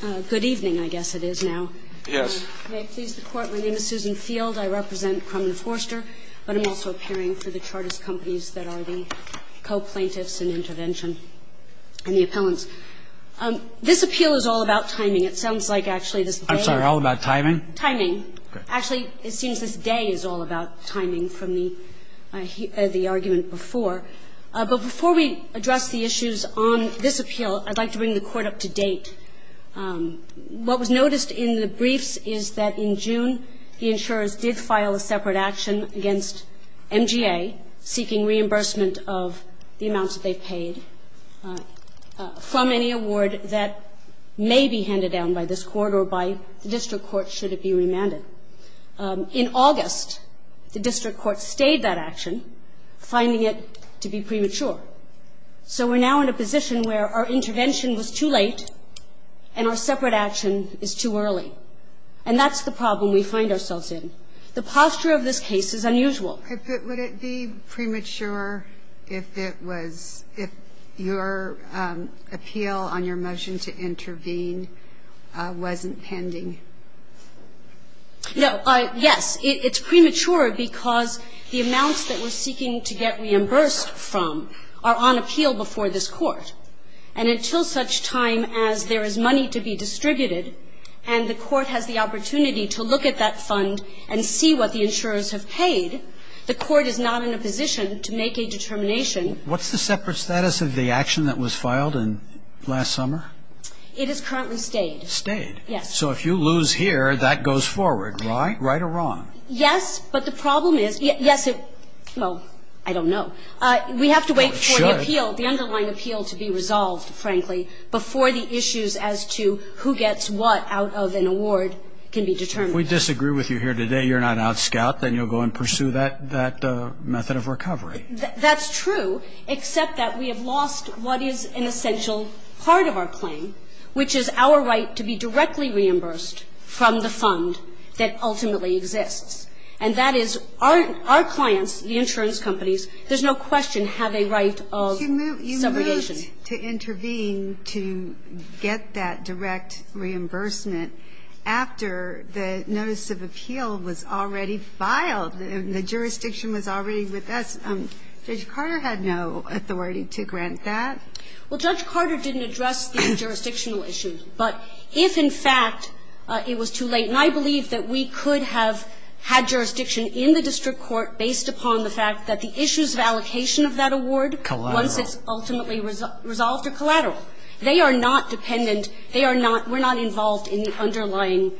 Good evening, I guess it is now. Yes. May it please the Court, my name is Susan Field. I represent Krum and Forster, but I'm also appearing for the Chartist Companies that are the co-plaintiffs in intervention and the appellants. This appeal is all about timing. It sounds like actually this day is all about timing. I'm sorry, all about timing? Timing. Actually, it seems this day is all about timing from the argument before. But before we address the issues on this appeal, I'd like to bring the Court up to date. What was noticed in the briefs is that in June, the insurers did file a separate action against MGA, seeking reimbursement of the amounts that they paid from any award that may be handed down by this Court or by the district court should it be remanded. In August, the district court stayed that action, finding it to be premature. So we're now in a position where our intervention was too late and our separate action is too early. And that's the problem we find ourselves in. The posture of this case is unusual. Would it be premature if it was, if your appeal on your motion to intervene wasn't pending? No. Yes. It's premature because the amounts that we're seeking to get reimbursed from are on appeal before this Court. And until such time as there is money to be distributed and the Court has the opportunity to look at that fund and see what the insurers have paid, the Court is not in a position to make a determination. What's the separate status of the action that was filed in last summer? It is currently stayed. Stayed. Yes. So if you lose here, that goes forward, right? Right or wrong? Yes. But the problem is, yes, well, I don't know. We have to wait for the appeal, the underlying appeal to be resolved, frankly, before the issues as to who gets what out of an award can be determined. If we disagree with you here today, you're not out, Scout, then you'll go and pursue that method of recovery. That's true, except that we have lost what is an essential part of our claim, which is our right to be directly reimbursed from the fund that ultimately exists. And that is our clients, the insurance companies, there's no question have a right of subrogation. But you moved to intervene to get that direct reimbursement after the notice of appeal was already filed and the jurisdiction was already with us. Judge Carter had no authority to grant that. Well, Judge Carter didn't address the jurisdictional issue. But if, in fact, it was too late, and I believe that we could have had jurisdiction in the district court based upon the fact that the issues of allocation of that award once it's ultimately resolved are collateral. They are not dependent. They are not we're not involved in the underlying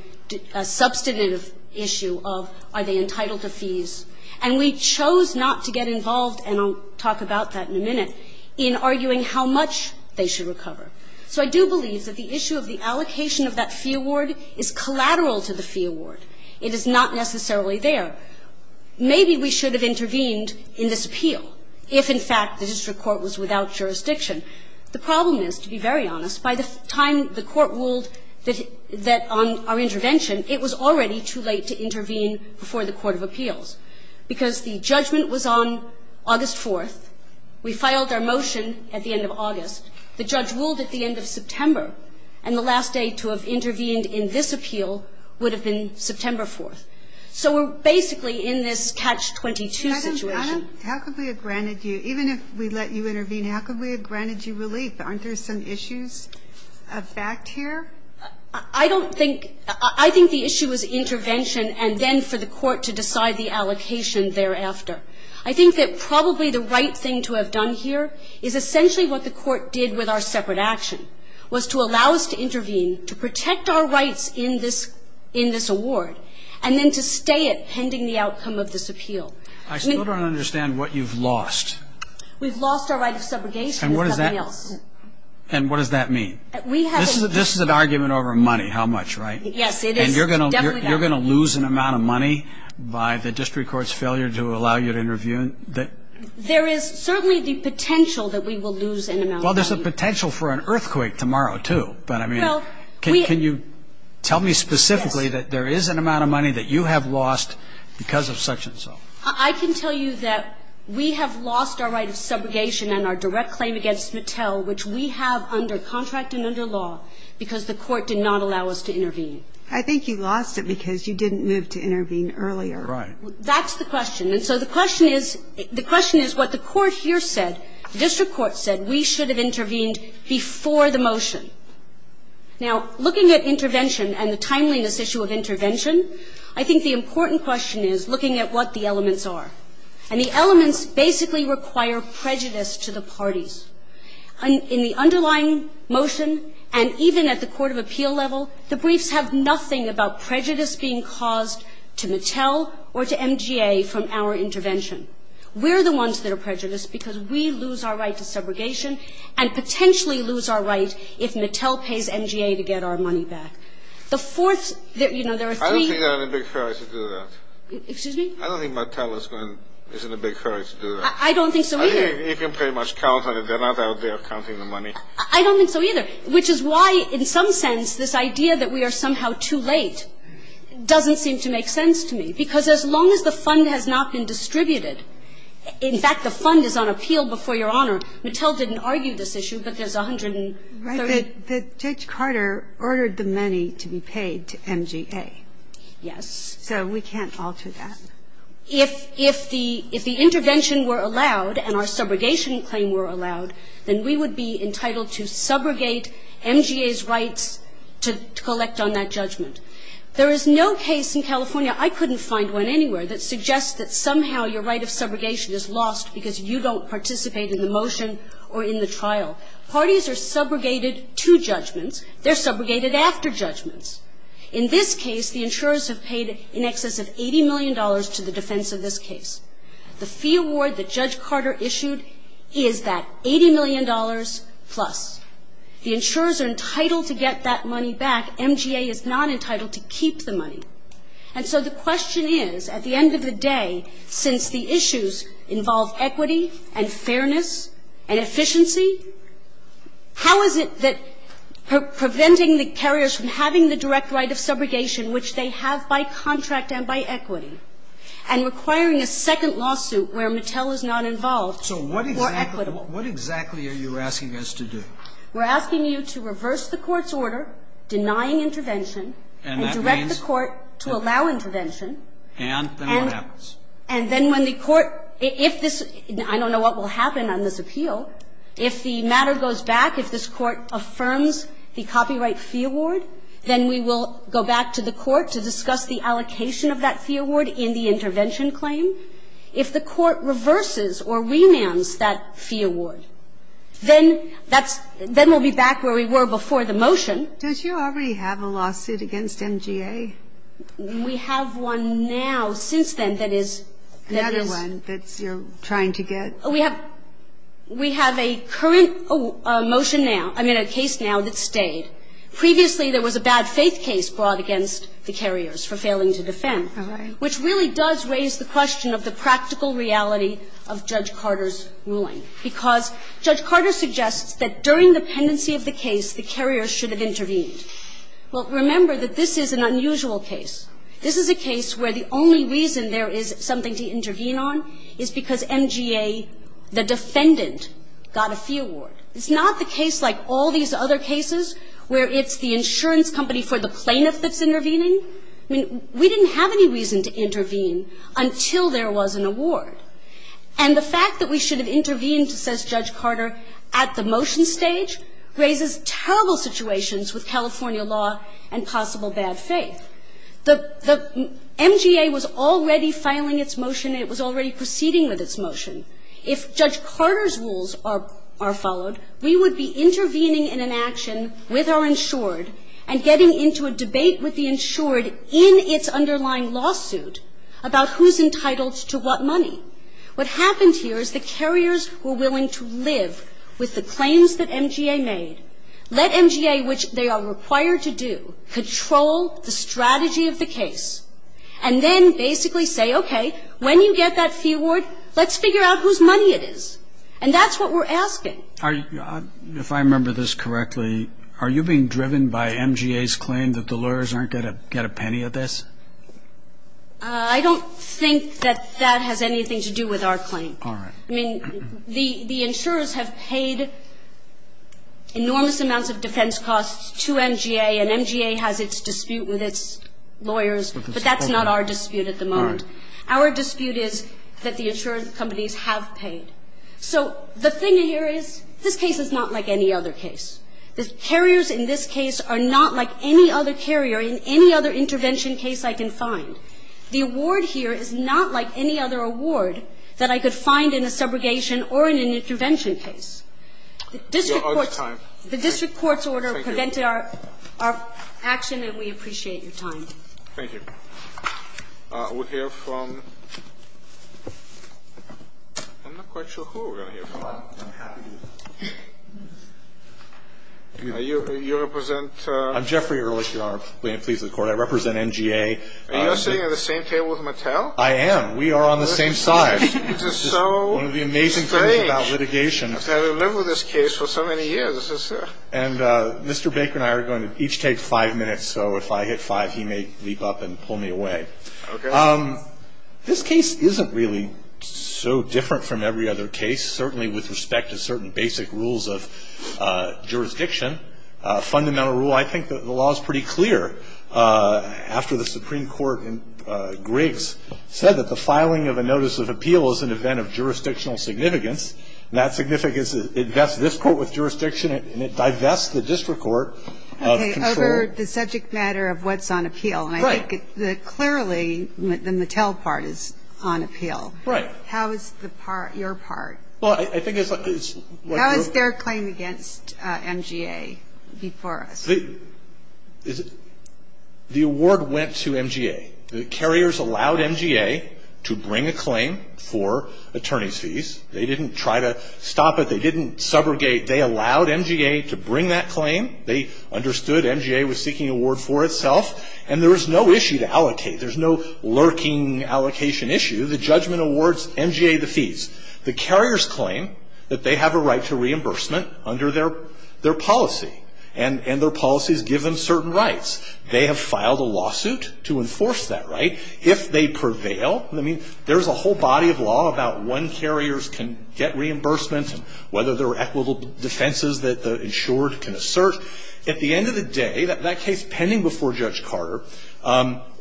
substantive issue of are they entitled to fees. And we chose not to get involved, and I'll talk about that in a minute, in arguing how much they should recover. So I do believe that the issue of the allocation of that fee award is collateral to the fee award. It is not necessarily there. Maybe we should have intervened in this appeal if, in fact, the district court was without jurisdiction. The problem is, to be very honest, by the time the court ruled that on our intervention, it was already too late to intervene before the court of appeals. Because the judgment was on August 4th. We filed our motion at the end of August. The judge ruled at the end of September. And the last day to have intervened in this appeal would have been September 4th. So we're basically in this catch-22 situation. Madam, Madam, how could we have granted you, even if we let you intervene, how could we have granted you relief? Aren't there some issues of fact here? I don't think I think the issue is intervention and then for the court to decide the allocation thereafter. I think that probably the right thing to have done here is essentially what the court did with our separate action, was to allow us to intervene, to protect our rights in this award, and then to stay it pending the outcome of this appeal. I still don't understand what you've lost. We've lost our right of subrogation. And what does that mean? This is an argument over money, how much, right? Yes, it is. And you're going to lose an amount of money by the district court's failure to allow you to intervene? There is certainly the potential that we will lose an amount of money. Well, there's a potential for an earthquake tomorrow, too. But, I mean, can you tell me specifically that there is an amount of money that you have lost because of such and so? I can tell you that we have lost our right of subrogation and our direct claim against Mattel, which we have under contract and under law, because the court did not allow us to intervene. I think you lost it because you didn't move to intervene earlier. Right. That's the question. And so the question is, the question is what the court here said, the district court said we should have intervened before the motion. Now, looking at intervention and the timeliness issue of intervention, I think the important question is looking at what the elements are. And the elements basically require prejudice to the parties. In the underlying motion and even at the court of appeal level, the briefs have nothing about prejudice being caused to Mattel or to MGA from our intervention. We're the ones that are prejudiced because we lose our right to subrogation and potentially lose our right if Mattel pays MGA to get our money back. The fourth, you know, there are three. I don't think they're in a big hurry to do that. Excuse me? I don't think Mattel is in a big hurry to do that. I don't think so, either. I think they can pretty much count on it. They're not out there counting the money. I don't think so, either, which is why in some sense this idea that we are somehow too late doesn't seem to make sense to me, because as long as the fund has not been distributed. In fact, the fund is on appeal before Your Honor. Mattel didn't argue this issue, but there's 130. But Judge Carter ordered the money to be paid to MGA. Yes. So we can't alter that. If the intervention were allowed and our subrogation claim were allowed, then we would be entitled to subrogate MGA's rights to collect on that judgment. There is no case in California, I couldn't find one anywhere, that suggests that somehow your right of subrogation is lost because you don't participate in the motion or in the trial. Parties are subrogated to judgments. They're subrogated after judgments. In this case, the insurers have paid in excess of $80 million to the defense of this case. The fee award that Judge Carter issued is that $80 million plus. The insurers are entitled to get that money back. MGA is not entitled to keep the money. And so the question is, at the end of the day, since the issues involve equity and fairness and efficiency, how is it that preventing the carriers from having the direct right of subrogation, which they have by contract and by equity, and requiring a second lawsuit where Mattel is not involved or equitable? So what exactly are you asking us to do? We're asking you to reverse the Court's order denying intervention. And that means? And direct the Court to allow intervention. And then what happens? And then when the Court, if this, I don't know what will happen on this appeal. If the matter goes back, if this Court affirms the copyright fee award, then we will go back to the Court to discuss the allocation of that fee award in the intervention claim. If the Court reverses or renams that fee award, then that's, then we'll be back where we were before the motion. Don't you already have a lawsuit against MGA? We have one now since then that is, that is. Another one that you're trying to get? We have, we have a current motion now, I mean, a case now that stayed. Previously, there was a bad faith case brought against the carriers for failing to defend. All right. Which really does raise the question of the practical reality of Judge Carter's ruling, because Judge Carter suggests that during the pendency of the case, the carriers should have intervened. Well, remember that this is an unusual case. This is a case where the only reason there is something to intervene on is because MGA, the defendant, got a fee award. It's not the case like all these other cases where it's the insurance company for the plaintiff that's intervening. I mean, we didn't have any reason to intervene until there was an award. And the fact that we should have intervened, says Judge Carter, at the motion stage raises terrible situations with California law and possible bad faith. The MGA was already filing its motion. It was already proceeding with its motion. If Judge Carter's rules are followed, we would be intervening in an action with our insured and getting into a debate with the insured in its underlying lawsuit about who's entitled to what money. What happened here is the carriers were willing to live with the claims that MGA made, let MGA, which they are required to do, control the strategy of the case, and then basically say, okay, when you get that fee award, let's figure out whose money it is. And that's what we're asking. Are you – if I remember this correctly, are you being driven by MGA's claim that the lawyers aren't going to get a penny of this? I don't think that that has anything to do with our claim. All right. I mean, the insurers have paid enormous amounts of defense costs to MGA, and MGA has its dispute with its lawyers, but that's not our dispute at the moment. All right. Our dispute is that the insured companies have paid. So the thing here is this case is not like any other case. The carriers in this case are not like any other carrier in any other intervention case I can find. The award here is not like any other award that I could find in a subrogation or in an intervention case. The district court's order prevented our action, and we appreciate your time. Thank you. We'll hear from – I'm not quite sure who we're going to hear from. You represent? I'm Jeffrey Ehrlich, Your Honor. I represent MGA. Are you sitting at the same table as Mattel? I am. We are on the same side. This is so strange. One of the amazing things about litigation. I've been living with this case for so many years. And Mr. Baker and I are going to each take five minutes, so if I hit five, he may leap up and pull me away. Okay. This case isn't really so different from every other case, certainly with respect to certain basic rules of jurisdiction. Fundamental rule. I think the law is pretty clear. After the Supreme Court in Griggs said that the filing of a notice of appeal is an event of jurisdictional significance, and that significance invests this court with jurisdiction and it divests the district court of control. Okay, over the subject matter of what's on appeal. Right. And I think clearly the Mattel part is on appeal. Right. How is your part? Well, I think it's like you're – How is their claim against MGA before us? The award went to MGA. The carriers allowed MGA to bring a claim for attorney's fees. They didn't try to stop it. They didn't subrogate. They allowed MGA to bring that claim. They understood MGA was seeking an award for itself. And there was no issue to allocate. There's no lurking allocation issue. The judgment awards MGA the fees. The carriers claim that they have a right to reimbursement under their policy. And their policies give them certain rights. They have filed a lawsuit to enforce that. Right. If they prevail, I mean, there's a whole body of law about when carriers can get reimbursement and whether there are equitable defenses that the insured can assert. At the end of the day, that case pending before Judge Carter,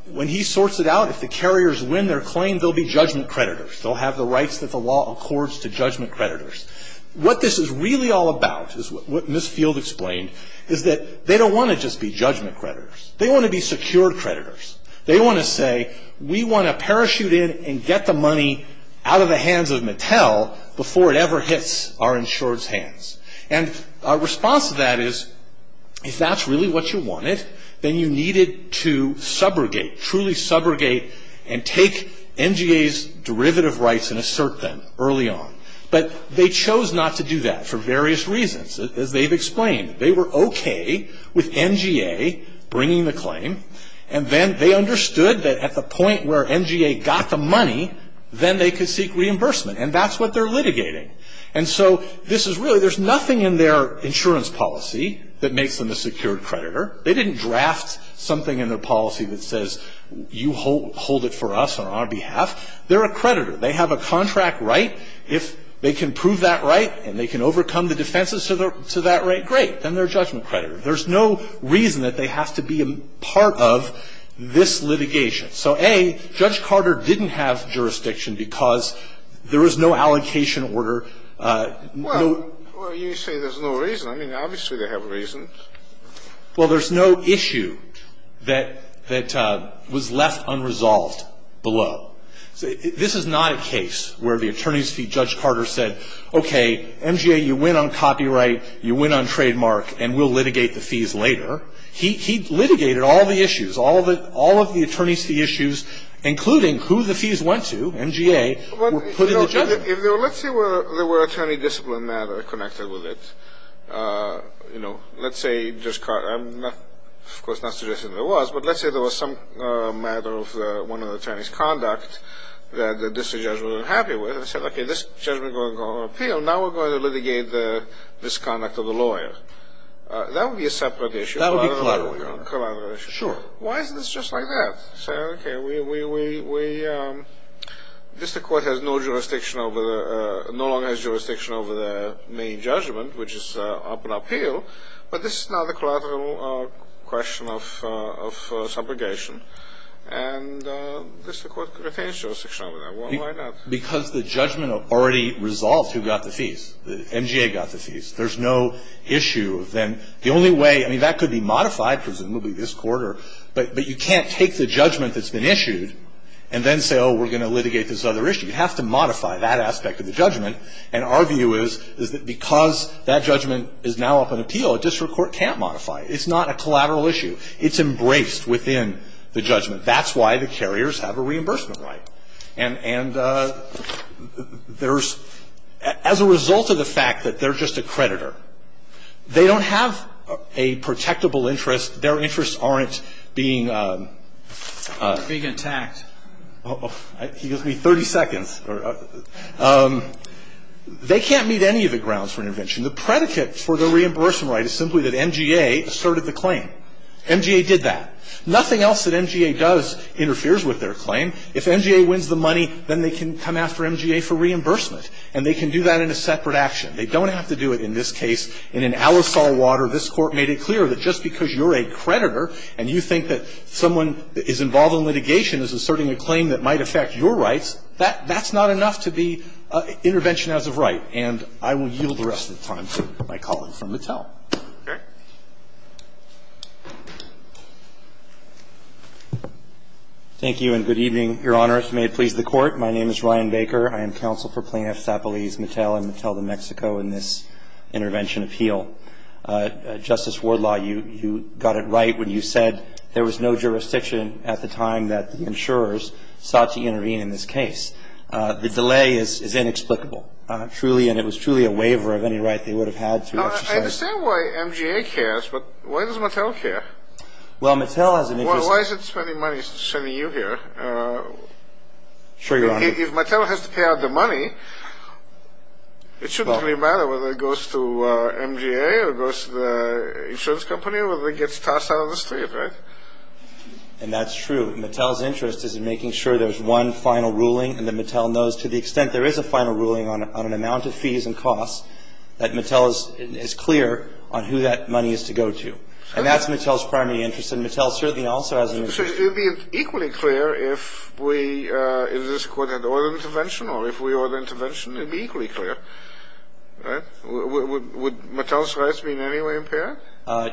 when he sorts it out, if the carriers win their claim, they'll be judgment creditors. They'll have the rights that the law accords to judgment creditors. What this is really all about, as Ms. Field explained, is that they don't want to just be judgment creditors. They want to be secured creditors. They want to say, we want to parachute in and get the money out of the hands of Mattel before it ever hits our insured's hands. And our response to that is, if that's really what you wanted, then you needed to subrogate, truly subrogate, and take NGA's derivative rights and assert them early on. But they chose not to do that for various reasons, as they've explained. They were okay with NGA bringing the claim, and then they understood that at the point where NGA got the money, then they could seek reimbursement. And that's what they're litigating. And so this is really, there's nothing in their insurance policy that makes them a secured creditor. They didn't draft something in their policy that says, you hold it for us on our behalf. They're a creditor. They have a contract right. If they can prove that right and they can overcome the defenses to that right, great. Then they're a judgment creditor. There's no reason that they have to be a part of this litigation. So, A, Judge Carter didn't have jurisdiction because there was no allocation order, no ---- Well, you say there's no reason. I mean, obviously they have a reason. Well, there's no issue that was left unresolved below. This is not a case where the attorney's fee, Judge Carter said, okay, NGA, you win on copyright, you win on trademark, and we'll litigate the fees later. He litigated all the issues, all of the attorney's fee issues, including who the fees went to, NGA, were put in the judgment. Well, let's say there were attorney discipline matters connected with it. You know, let's say, of course, not suggesting there was, but let's say there was some matter of one of the attorney's conduct that the district judge wasn't happy with, and said, okay, this judgment is going to go on appeal. Now we're going to litigate the misconduct of the lawyer. That would be a separate issue. That would be collateral, Your Honor. Collateral issue. Sure. Why is this just like that? So, okay, we, this court has no jurisdiction over, no longer has jurisdiction over the main judgment, which is up on appeal, but this is now the collateral question of subrogation, and this court retains jurisdiction over that. Why not? Because the judgment already resolved who got the fees. NGA got the fees. There's no issue. Then the only way, I mean, that could be modified, presumably, this quarter, but you can't take the judgment that's been issued and then say, oh, we're going to litigate this other issue. You have to modify that aspect of the judgment, and our view is that because that judgment is now up on appeal, a district court can't modify it. It's not a collateral issue. It's embraced within the judgment. That's why the carriers have a reimbursement right. And there's, as a result of the fact that they're just a creditor, they don't have a protectable interest. Their interests aren't being attacked. He gives me 30 seconds. They can't meet any of the grounds for intervention. The predicate for the reimbursement right is simply that NGA asserted the claim. NGA did that. Nothing else that NGA does interferes with their claim. If NGA wins the money, then they can come after NGA for reimbursement, and they can do that in a separate action. They don't have to do it in this case. In an alisal water, this Court made it clear that just because you're a creditor and you think that someone that is involved in litigation is asserting a claim that might affect your rights, that's not enough to be intervention as of right. And I will yield the rest of the time to my colleague from Mattel. Okay. Thank you, and good evening, Your Honor. If you may, please, the Court. My name is Ryan Baker. I am counsel for Plaintiffs Appellees Mattel and Mattel de Mexico in this intervention appeal. Justice Wardlaw, you got it right when you said there was no jurisdiction at the time that the insurers sought to intervene in this case. The delay is inexplicable. Truly, and it was truly a waiver of any right they would have had to exercise. I understand why NGA cares, but why does Mattel care? Well, Mattel has an interest in it. Well, why is it spending money sending you here? Sure, Your Honor. If Mattel has to pay out the money, it shouldn't really matter whether it goes to NGA or goes to the insurance company or whether it gets tossed out on the street, right? And that's true. Mattel's interest is in making sure there's one final ruling and that Mattel knows to the extent there is a final ruling on an amount of fees and costs, that Mattel is clear on who that money is to go to. And that's Mattel's primary interest, and Mattel certainly also has an interest. So it would be equally clear if we, if this Court had ordered intervention or if we ordered intervention, it would be equally clear, right? Would Mattel's rights be in any way impaired?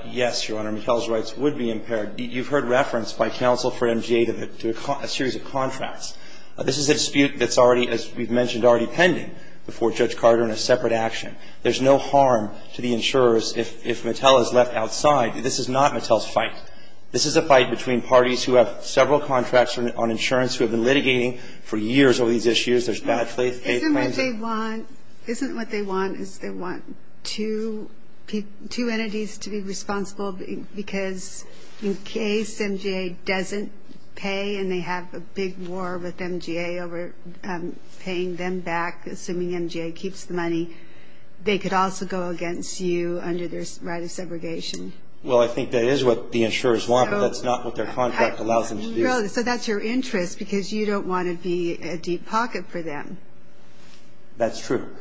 Yes, Your Honor. Mattel's rights would be impaired. You've heard reference by counsel for NGA to a series of contracts. This is a dispute that's already, as we've mentioned, already pending before Judge Carter in a separate action. There's no harm to the insurers if Mattel is left outside. This is not Mattel's fight. This is a fight between parties who have several contracts on insurance, who have been litigating for years over these issues. There's bad faith claims. Isn't what they want is they want two entities to be responsible because in case NGA doesn't pay and they have a big war with NGA over paying them back, assuming NGA keeps the money, that's not what the insurers want. That's not what their contract allows them to do. So that's your interest because you don't want to be a deep pocket for them. That's true.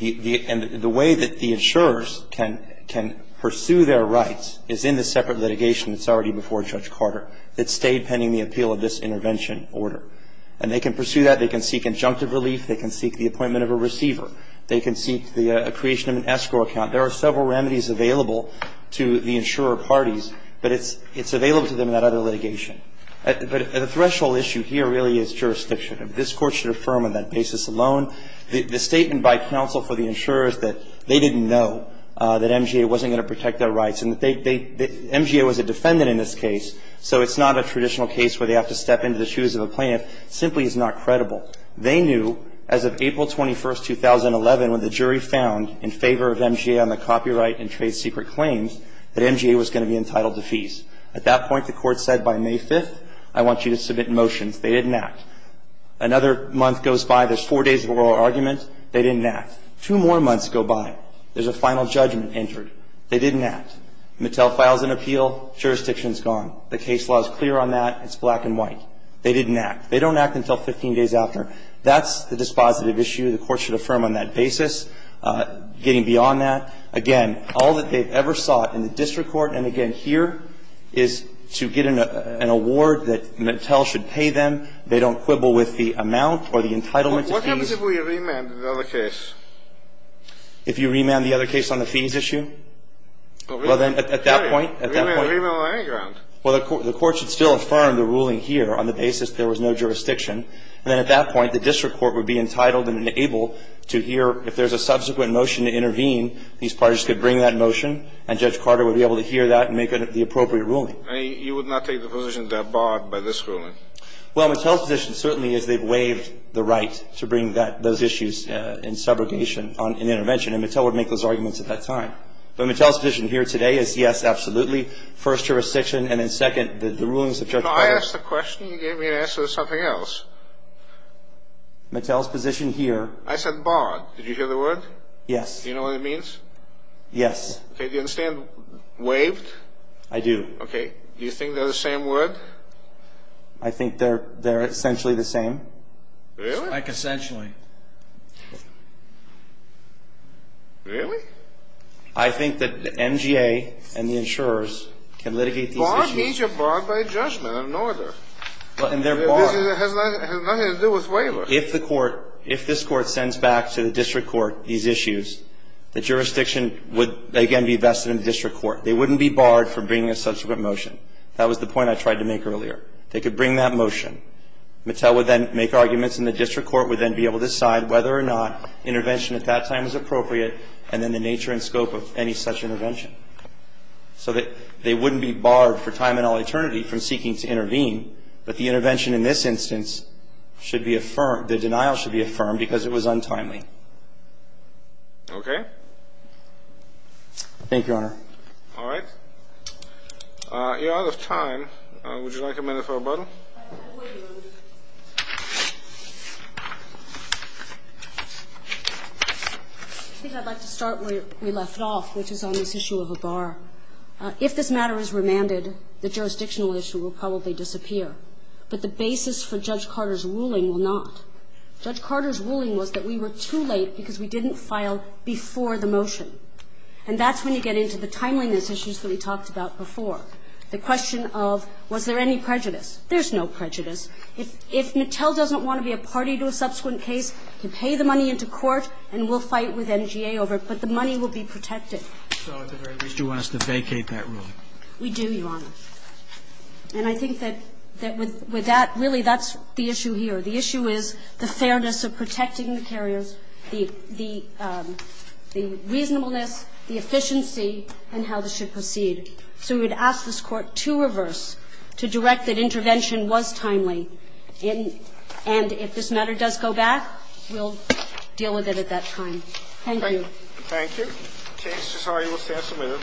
And the way that the insurers can pursue their rights is in the separate litigation that's already before Judge Carter that stayed pending the appeal of this intervention order. And they can pursue that. They can seek injunctive relief. They can seek the appointment of a receiver. They can seek the creation of an escrow account. There are several remedies available to the insurer parties. But it's available to them in that other litigation. But the threshold issue here really is jurisdiction. This Court should affirm on that basis alone. The statement by counsel for the insurers that they didn't know that NGA wasn't going to protect their rights and that NGA was a defendant in this case so it's not a traditional case where they have to step into the shoes of a plaintiff simply is not credible. They knew as of April 21st, 2011, when the jury found in favor of NGA on the copyright and trade secret claims that NGA was going to be entitled to fees. At that point, the Court said by May 5th, I want you to submit motions. They didn't act. Another month goes by. There's four days of oral argument. They didn't act. Two more months go by. There's a final judgment entered. They didn't act. Mattel files an appeal. Jurisdiction is gone. The case law is clear on that. It's black and white. They didn't act. They don't act until 15 days after. That's the dispositive issue. The Court should affirm on that basis. Getting beyond that, again, all that they've ever sought in the district court, and again here, is to get an award that Mattel should pay them. They don't quibble with the amount or the entitlement to fees. What happens if we remand the other case? If you remand the other case on the fees issue? Well, then at that point, at that point. Remand on any ground. Well, the Court should still affirm the ruling here on the basis there was no jurisdiction. And then at that point, the district court would be entitled and able to hear if there's a subsequent motion to intervene, these parties could bring that motion, and Judge Carter would be able to hear that and make the appropriate ruling. You would not take the position that they're barred by this ruling? Well, Mattel's position certainly is they've waived the right to bring those issues in subrogation on an intervention. And Mattel would make those arguments at that time. But Mattel's position here today is yes, absolutely, first, jurisdiction, and then second, the rulings of Judge Carter. No, I asked the question. You gave me an answer to something else. Mattel's position here. I said barred. Did you hear the word? Yes. Do you know what it means? Yes. Okay. Do you understand waived? I do. Okay. Do you think they're the same word? I think they're essentially the same. Really? Like, essentially. Really? I think that the MGA and the insurers can litigate these issues. Barred means you're barred by a judgment, an order. And they're barred. It has nothing to do with waiver. If the Court, if this Court sends back to the district court these issues, the jurisdiction would, again, be vested in the district court. They wouldn't be barred from bringing a subsequent motion. That was the point I tried to make earlier. They could bring that motion. Mattel would then make arguments, and the district court would then be able to make whether or not intervention at that time is appropriate, and then the nature and scope of any such intervention. So that they wouldn't be barred for time and all eternity from seeking to intervene. But the intervention in this instance should be affirmed, the denial should be affirmed, because it was untimely. Okay. Thank you, Your Honor. All right. You're out of time. Would you like a minute for rebuttal? I would, Your Honor. I think I'd like to start where we left off, which is on this issue of a bar. If this matter is remanded, the jurisdictional issue will probably disappear. But the basis for Judge Carter's ruling will not. Judge Carter's ruling was that we were too late because we didn't file before the motion. And that's when you get into the timeliness issues that we talked about before. The question of was there any prejudice. There's no prejudice. If Mattel doesn't want to be a party to a subsequent case, you pay the money into court and we'll fight with NGA over it, but the money will be protected. So at the very least, you want us to vacate that ruling. We do, Your Honor. And I think that with that, really, that's the issue here. The issue is the fairness of protecting the carriers, the reasonableness, the efficiency, and how this should proceed. So we would ask this Court to reverse, to direct that intervention was timely. And if this matter does go back, we'll deal with it at that time. Thank you. Thank you. The case is highly assessable.